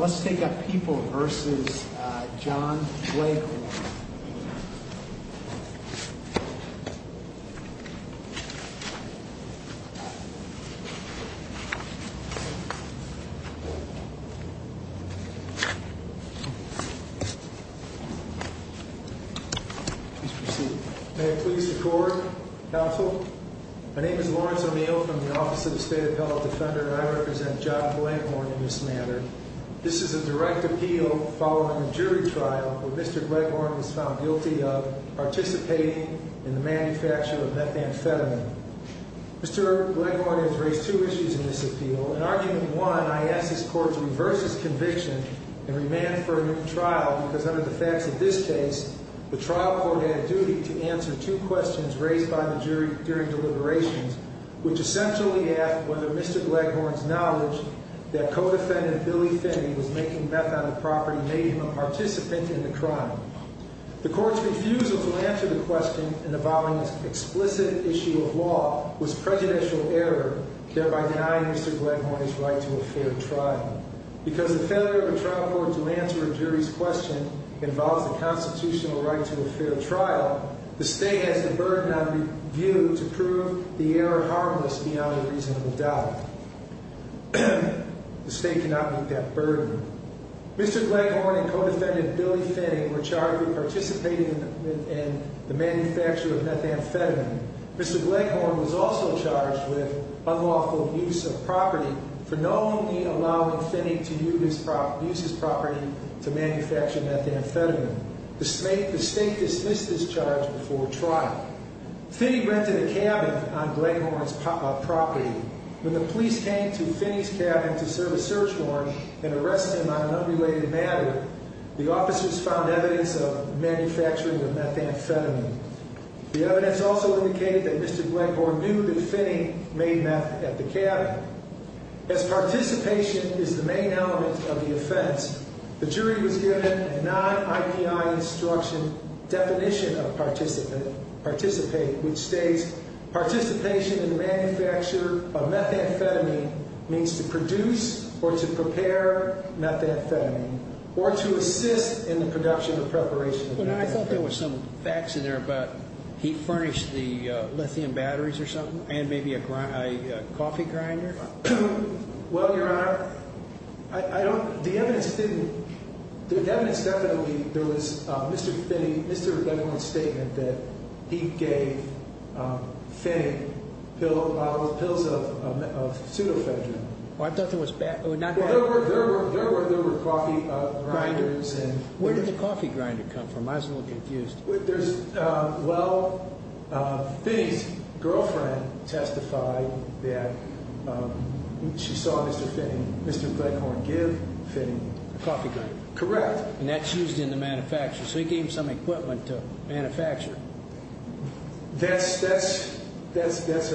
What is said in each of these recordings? Let's take up People v. John Gleghorn. Please proceed. May it please the Court, Counsel. My name is Lawrence O'Neill from the Office of the State Appellate Defender, and I represent John Gleghorn in this matter. This is a direct appeal following a jury trial where Mr. Gleghorn was found guilty of participating in the manufacture of methamphetamine. Mr. Gleghorn has raised two issues in this appeal. In Argument 1, I ask this Court to reverse its conviction and remand for a new trial, because under the facts of this case, the trial court had a duty to answer two questions raised by the jury during deliberations, which essentially asked whether Mr. Gleghorn's knowledge that co-defendant Billy Finney was making meth on the property made him a participant in the crime. The Court's refusal to answer the question in the following explicit issue of law was prejudicial error, thereby denying Mr. Gleghorn his right to a fair trial. Because the failure of a trial court to answer a jury's question involves the constitutional right to a fair trial, the State has the burden on review to prove the error harmless beyond a reasonable doubt. The State cannot meet that burden. Mr. Gleghorn and co-defendant Billy Finney were charged with participating in the manufacture of methamphetamine. Mr. Gleghorn was also charged with unlawful use of property for knowingly allowing Finney to use his property to manufacture methamphetamine. The State dismissed this charge before trial. Finney rented a cabin on Gleghorn's property. When the police came to Finney's cabin to serve a search warrant and arrest him on an unrelated matter, the officers found evidence of manufacturing the methamphetamine. The evidence also indicated that Mr. Gleghorn knew that Finney made meth at the cabin. As participation is the main element of the offense, the jury was given a non-IPI instruction definition of participate, which states participation in the manufacture of methamphetamine means to produce or to prepare methamphetamine or to assist in the production or preparation of methamphetamine. There was some facts in there about he furnished the lithium batteries or something and maybe a coffee grinder? Well, Your Honor, I don't, the evidence didn't, the evidence definitely, there was Mr. Finney, Mr. Gleghorn's statement that he gave Finney pills of pseudo-phetamine. I thought there was, there were coffee grinders. Where did the coffee grinder come from? I was a little confused. There's, well, Finney's girlfriend testified that she saw Mr. Finney, Mr. Gleghorn give Finney. A coffee grinder. Correct. And that's used in the manufacture, so he gave him some equipment to manufacture. That's, that's, that's a, that's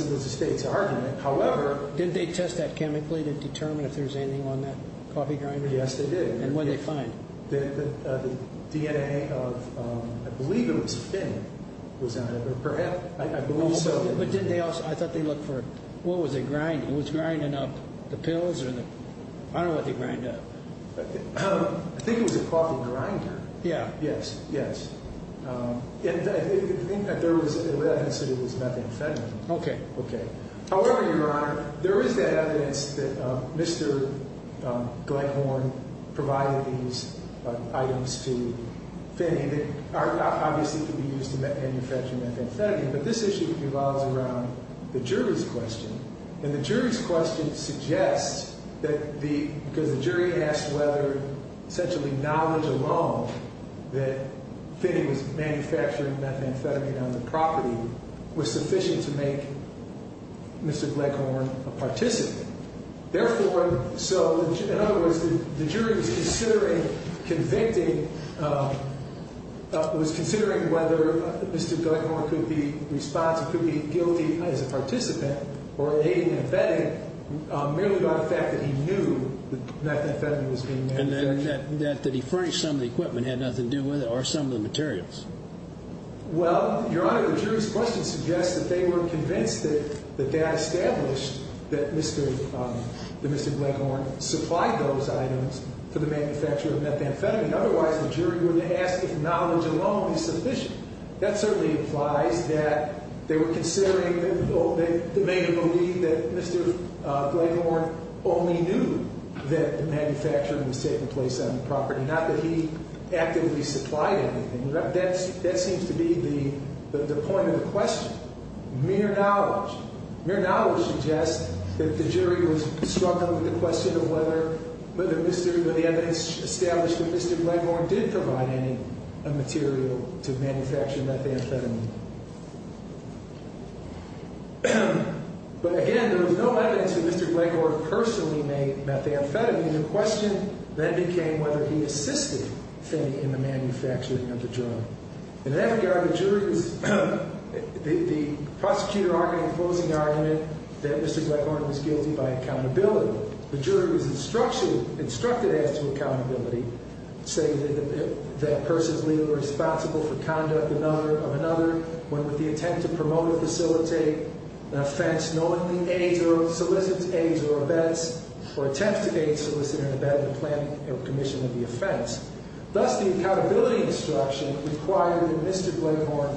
a, that's a state's argument. However. Didn't they test that chemically to determine if there's anything on that coffee grinder? Yes, they did. And what'd they find? The DNA of, I believe it was Finney was on it, or perhaps, I believe so. But didn't they also, I thought they looked for, what was it grinding? Was it grinding up the pills or the, I don't know what they grind up. I think it was a coffee grinder. Yeah. Yes, yes. And I think that there was evidence that it was methamphetamine. Okay. Okay. However, Your Honor, there is that evidence that Mr. Gleghorn provided these items to Finney that obviously could be used to manufacture methamphetamine. But this issue revolves around the jury's question. And the jury's question suggests that the, because the jury asked whether essentially knowledge alone that Finney was manufacturing methamphetamine on the property was sufficient to make Mr. Gleghorn a participant. Therefore, so in other words, the jury was considering convicting, was considering whether Mr. Gleghorn could be responsible, could be guilty as a participant or aiding and abetting merely by the fact that he knew that methamphetamine was being manufactured. And that he furnished some of the equipment had nothing to do with it or some of the materials. Well, Your Honor, the jury's question suggests that they were convinced that the data established that Mr. Gleghorn supplied those items for the manufacture of methamphetamine. Otherwise, the jury would have asked if knowledge alone is sufficient. That certainly implies that they were considering, that they believed that Mr. Gleghorn only knew that the manufacturing was taking place on the property, not that he actively supplied anything. That seems to be the point of the question. Mere knowledge. Mere knowledge suggests that the jury was struggling with the question of whether, whether Mr., whether the evidence established that Mr. Gleghorn did provide any material to manufacture methamphetamine. But again, there was no evidence that Mr. Gleghorn personally made methamphetamine. The question then became whether he assisted Finney in the manufacturing of the drug. In that regard, the jury was, the, the prosecutor argued in the closing argument that Mr. Gleghorn was guilty by accountability. The jury was instructed, instructed as to accountability, saying that, that person is legally responsible for conduct another, of another, when with the attempt to promote or facilitate an offense, knowingly aids or solicits, aids or abets, or attempts to aid, solicit, or abet the planning or commission of the offense. Thus, the accountability instruction required that Mr. Gleghorn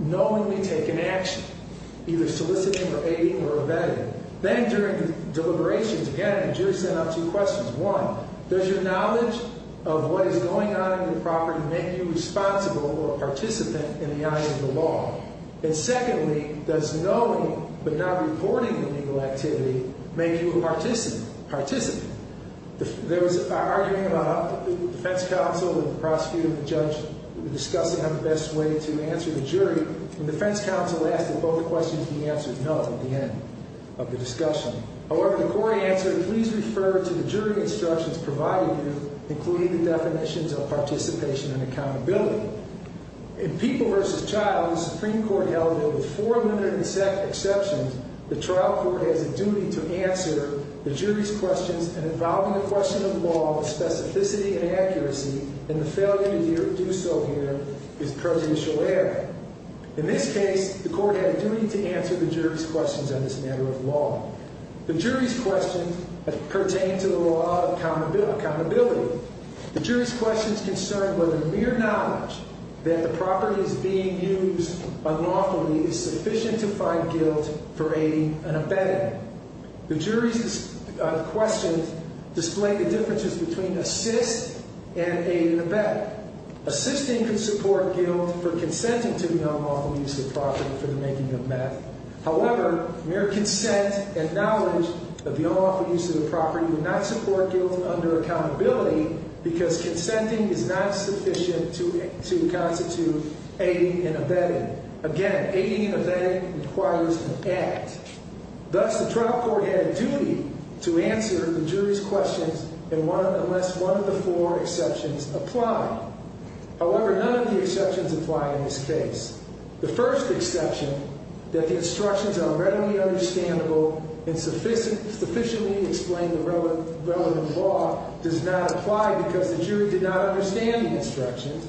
knowingly take an action, either soliciting or aiding or abetting. Then during the deliberations, again, the jury sent out two questions. One, does your knowledge of what is going on in the property make you responsible or a participant in the eye of the law? And secondly, does knowing but not reporting the legal activity make you a participant, participant? The, there was an argument about, the defense counsel and the prosecutor and the judge were discussing on the best way to answer the jury. And the defense counsel asked that both questions be answered no at the end of the discussion. However, the court answered, please refer to the jury instructions provided you, including the definitions of participation and accountability. In People v. Child, the Supreme Court held that with four minutes exceptions, the trial court has a duty to answer the jury's questions involving a question of law with specificity and accuracy. And the failure to do so here is prejudicial error. In this case, the court had a duty to answer the jury's questions on this matter of law. The jury's questions pertain to the law of accountability. The jury's questions concern whether mere knowledge that the property is being used unlawfully is sufficient to find guilt for aiding and abetting. The jury's questions display the differences between assist and aid and abet. Assisting can support guilt for consenting to the unlawful use of the property for the making of meth. However, mere consent and knowledge of the unlawful use of the property would not support guilt under accountability because consenting is not sufficient to constitute aiding and abetting. Again, aiding and abetting requires an act. Thus, the trial court had a duty to answer the jury's questions unless one of the four exceptions apply. However, none of the exceptions apply in this case. The first exception, that the instructions are readily understandable and sufficiently explain the relevant law, does not apply because the jury did not understand the instructions.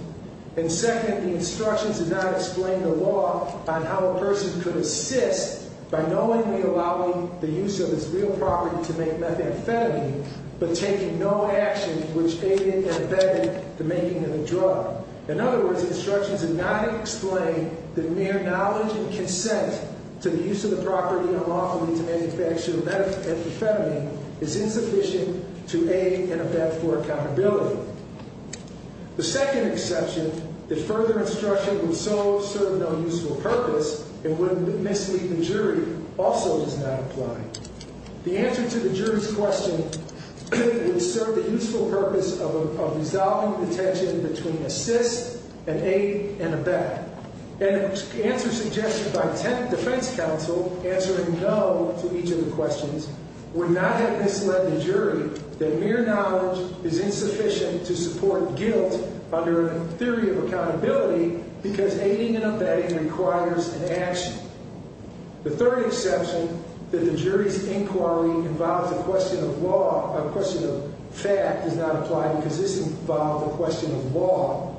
And second, the instructions did not explain the law on how a person could assist by knowingly allowing the use of this real property to make methamphetamine but taking no action which aided and abetted the making of the drug. In other words, the instructions did not explain that mere knowledge and consent to the use of the property unlawfully to manufacture methamphetamine is insufficient to aid and abet for accountability. The second exception, that further instruction would so serve no useful purpose and would mislead the jury, also does not apply. The answer to the jury's question would serve the useful purpose of resolving the tension between assist and aid and abet. And the answer suggested by the tenant defense counsel, answering no to each of the questions, would not have misled the jury that mere knowledge is insufficient to support guilt under a theory of accountability because aiding and abetting requires an action. The third exception, that the jury's inquiry involves a question of law, a question of fact, does not apply because this involves a question of law.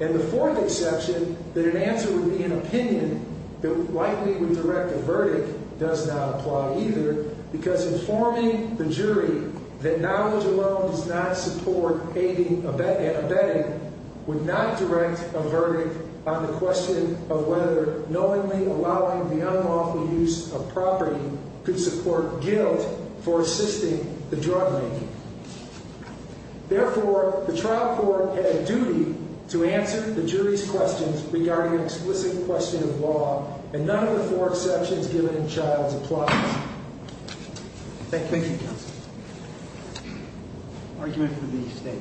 And the fourth exception, that an answer would be an opinion that likely would direct a verdict, does not apply either because informing the jury that knowledge alone does not support aiding and abetting would not direct a verdict on the question of whether knowingly allowing the unlawful use of property could support guilt for assisting the drug making. Therefore, the trial court had a duty to answer the jury's questions regarding an explicit question of law, and none of the four exceptions given in child's applies. Thank you. Thank you, counsel. Argument from the state.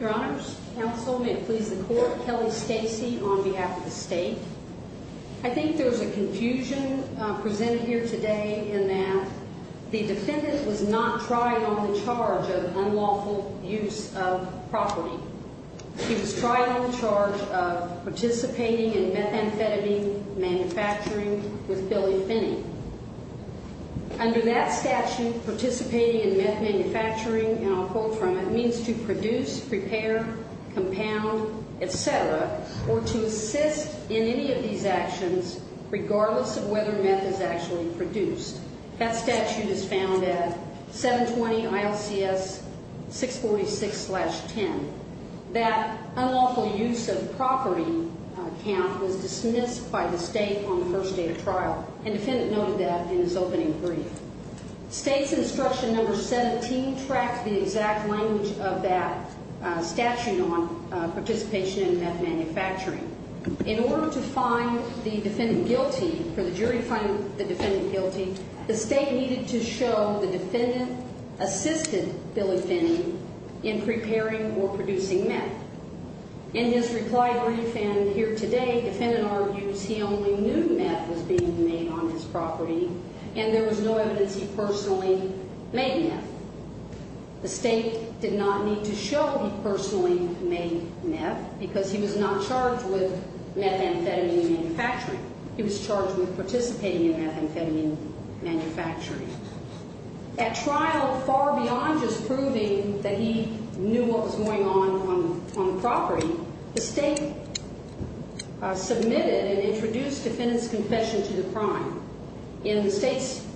Your honors, counsel, may it please the court, Kelly Stacy on behalf of the state. I think there's a confusion presented here today in that the defendant was not trying on the charge of unlawful use of property. He was trying on the charge of participating in methamphetamine manufacturing with Billy Finney. Under that statute, participating in methamphetamine manufacturing, and I'll quote from it, means to produce, prepare, compound, et cetera, or to assist in any of these actions regardless of whether meth is actually produced. That statute is found at 720-ILCS-646-10. That unlawful use of property count was dismissed by the state on the first day of trial, and the defendant noted that in his opening brief. State's instruction number 17 tracks the exact language of that statute on participation in meth manufacturing. In order to find the defendant guilty, for the jury to find the defendant guilty, the state needed to show the defendant assisted Billy Finney in preparing or producing meth. In his reply brief and here today, the defendant argues he only knew meth was being made on his property, and there was no evidence he personally made meth. The state did not need to show he personally made meth because he was not charged with methamphetamine manufacturing. He was charged with participating in methamphetamine manufacturing. At trial, far beyond just proving that he knew what was going on on the property, the state submitted and introduced defendant's confession to the prime. In the state's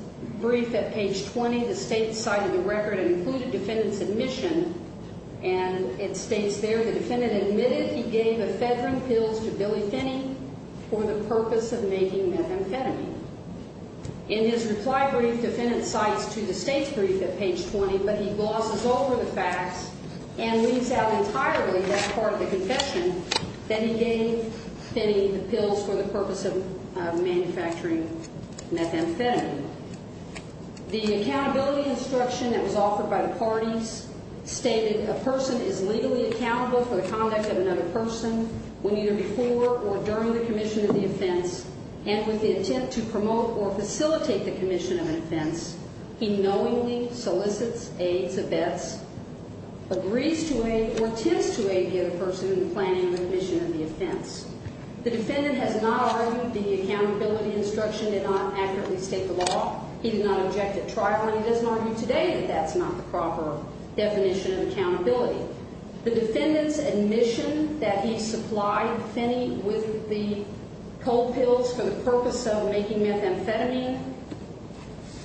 brief at page 20, the state cited the record and included defendant's admission, and it states there, the defendant admitted he gave ephedrine pills to Billy Finney for the purpose of making methamphetamine. In his reply brief, defendant cites to the state's brief at page 20, but he glosses over the facts and leaves out entirely that part of the confession that he gave Finney the pills for the purpose of manufacturing methamphetamine. The accountability instruction that was offered by the parties stated a person is legally accountable for the conduct of another person when either before or during the commission of the offense and with the intent to promote or facilitate the commission of an offense. He knowingly solicits, aids, abets, agrees to aid or tends to aid the other person in the planning of the commission of the offense. The defendant has not argued the accountability instruction did not accurately state the law. He did not object at trial, and he doesn't argue today that that's not the proper definition of accountability. The defendant's admission that he supplied Finney with the cold pills for the purpose of making methamphetamine,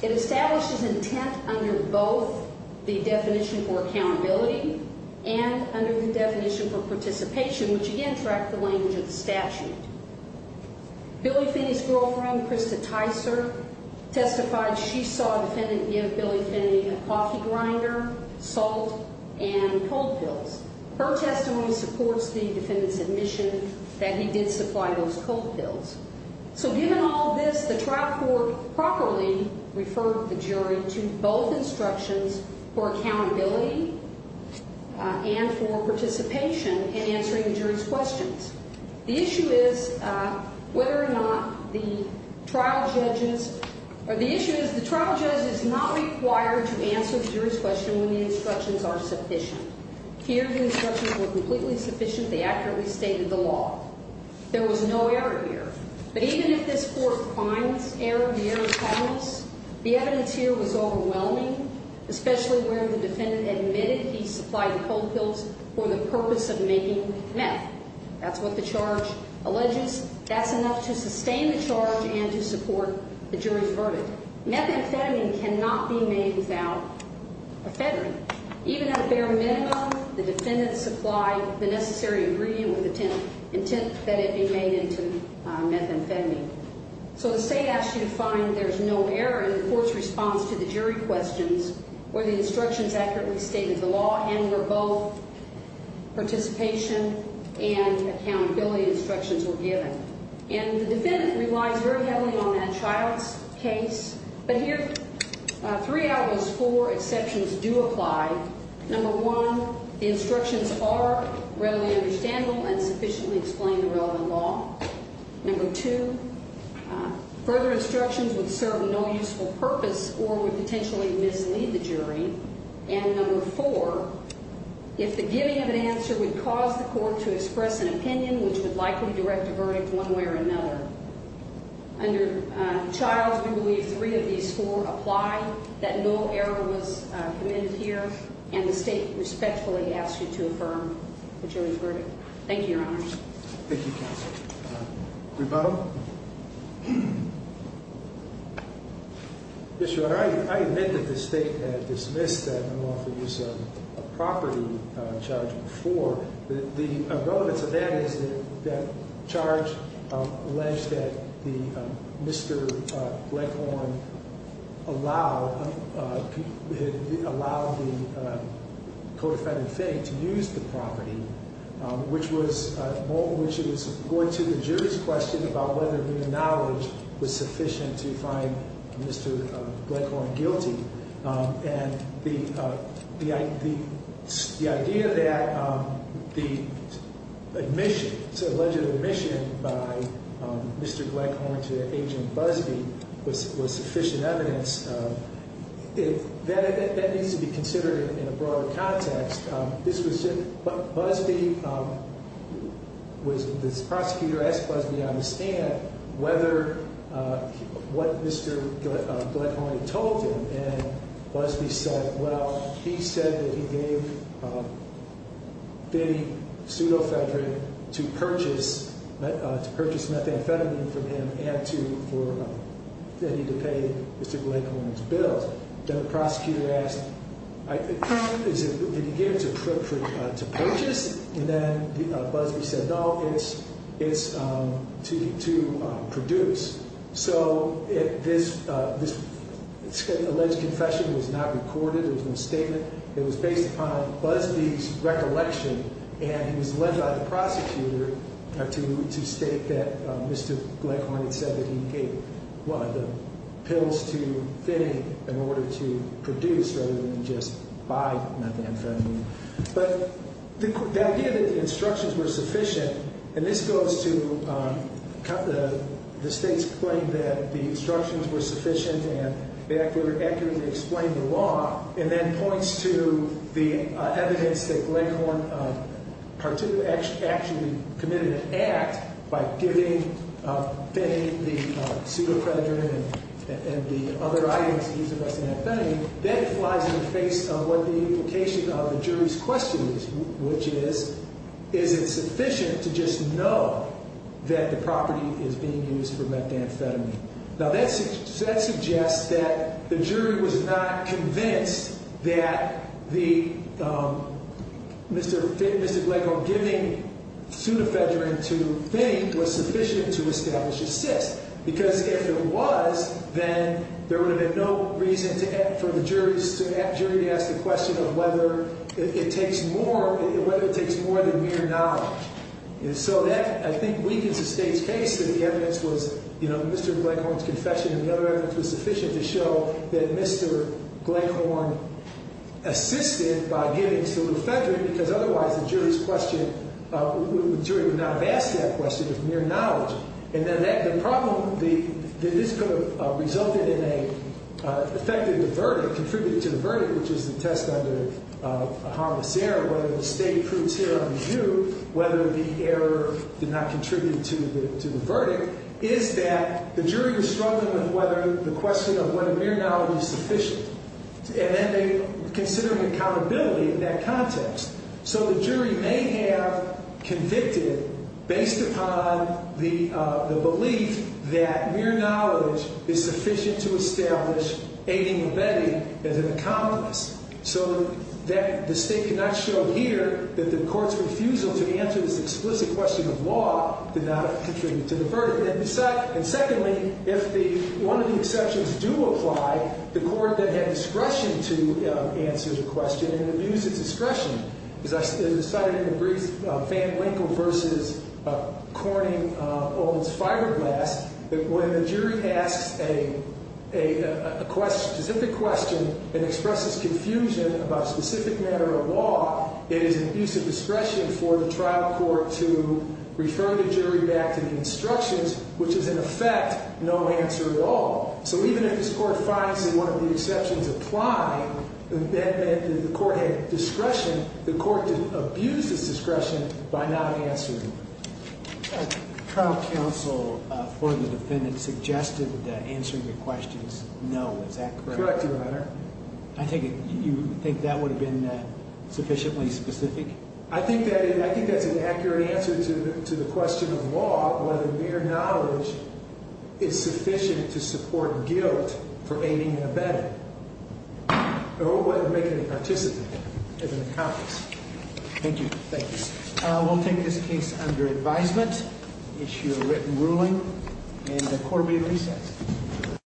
it establishes intent under both the definition for accountability and under the definition for participation, which, again, tracks the language of the statute. Billy Finney's girlfriend, Krista Tyser, testified she saw a defendant give Billy Finney a coffee grinder, salt, and cold pills. Her testimony supports the defendant's admission that he did supply those cold pills. So given all this, the trial court properly referred the jury to both instructions for accountability and for participation in answering the jury's questions. The issue is whether or not the trial judge is not required to answer the jury's question when the instructions are sufficient. Here, the instructions were completely sufficient. They accurately stated the law. There was no error here. But even if this court finds error, the error is harmless. The evidence here was overwhelming, especially where the defendant admitted he supplied the cold pills for the purpose of making meth. That's what the charge alleges. That's enough to sustain the charge and to support the jury's verdict. Methamphetamine cannot be made without ephedrine. Even at a bare minimum, the defendant supplied the necessary ingredient with the intent that it be made into methamphetamine. So the state asked you to find there's no error in the court's response to the jury questions where the instructions accurately stated the law and where both participation and accountability instructions were given. And the defendant relies very heavily on that trial's case. But here, three out of those four exceptions do apply. Number one, the instructions are readily understandable and sufficiently explain the relevant law. Number two, further instructions would serve no useful purpose or would potentially mislead the jury. And number four, if the giving of an answer would cause the court to express an opinion, which would likely direct a verdict one way or another. Under Childs, we believe three of these four apply, that no error was committed here, and the state respectfully asks you to affirm the jury's verdict. Thank you, Your Honor. Thank you, Counsel. Rebuttal? Yes, Your Honor. I admit that the state had dismissed the lawful use of a property charge before. The relevance of that is that charge alleged that Mr. Gleghorn allowed the codified defendant to use the property, which was going to the jury's question about whether the knowledge was sufficient to find Mr. Gleghorn guilty. And the idea that the admission, the alleged admission by Mr. Gleghorn to Agent Busbee was sufficient evidence, that needs to be considered in a broader context. This was just, Busbee, this prosecutor asked Busbee to understand whether, what Mr. Gleghorn had told him, and Busbee said, well, he said that he gave Finney Pseudo-Federick to purchase methamphetamine from him and for Finney to pay Mr. Gleghorn's bills. Then the prosecutor asked, did he give it to purchase? And then Busbee said, no, it's to produce. So this alleged confession was not recorded. There was no statement. It was based upon Busbee's recollection, and he was led by the prosecutor to state that Mr. Gleghorn had said that he gave the pills to Finney in order to produce rather than just buy methamphetamine. But the idea that the instructions were sufficient, and this goes to the state's claim that the instructions were sufficient and that they accurately explained the law, and then points to the evidence that Gleghorn actually committed an act by giving Finney the pseudo-predator and the other items used in methamphetamine, that flies in the face of what the implication of the jury's question is, which is, is it sufficient to just know that the property is being used for methamphetamine? Now, that suggests that the jury was not convinced that the Mr. Gleghorn giving pseudo-Federick to Finney was sufficient to establish a cyst, because if it was, then there would have been no reason for the jury to ask the question of whether it takes more than mere knowledge. And so that, I think, weakens the state's case that the evidence was, you know, Mr. Gleghorn's confession and the other evidence was sufficient to show that Mr. Gleghorn assisted by giving pseudo-Federick, because otherwise the jury would not have asked that question of mere knowledge. And then the problem that this could have resulted in a, affected the verdict, contributed to the verdict, which is the test under harmless error, whether the state approves here on review, whether the error did not contribute to the verdict, is that the jury is struggling with whether the question of whether mere knowledge is sufficient. And then they consider accountability in that context. So the jury may have convicted based upon the belief that mere knowledge is sufficient to establish aiding or abetting as an accomplice. So that the state cannot show here that the court's refusal to answer this explicit question of law did not contribute to the verdict. And secondly, if one of the exceptions do apply, the court that had discretion to answer such a question and abuse of discretion, as I cited in the brief, Van Winkle versus Corning-Owens-Fireglass, that when the jury asks a specific question and expresses confusion about a specific matter of law, it is an abuse of discretion for the trial court to refer the jury back to the instructions, which is in effect no answer at all. So even if this court finds that one of the exceptions apply, and the court had discretion, the court didn't abuse this discretion by not answering. The trial counsel for the defendant suggested answering the questions no. Is that correct? Correct, Your Honor. You think that would have been sufficiently specific? I think that's an accurate answer to the question of law, whether mere knowledge is sufficient to support guilt for aiding and abetting, or whether making a participant is an accomplice. Thank you. Thanks. We'll take this case under advisement, issue a written ruling, and the court will be at recess.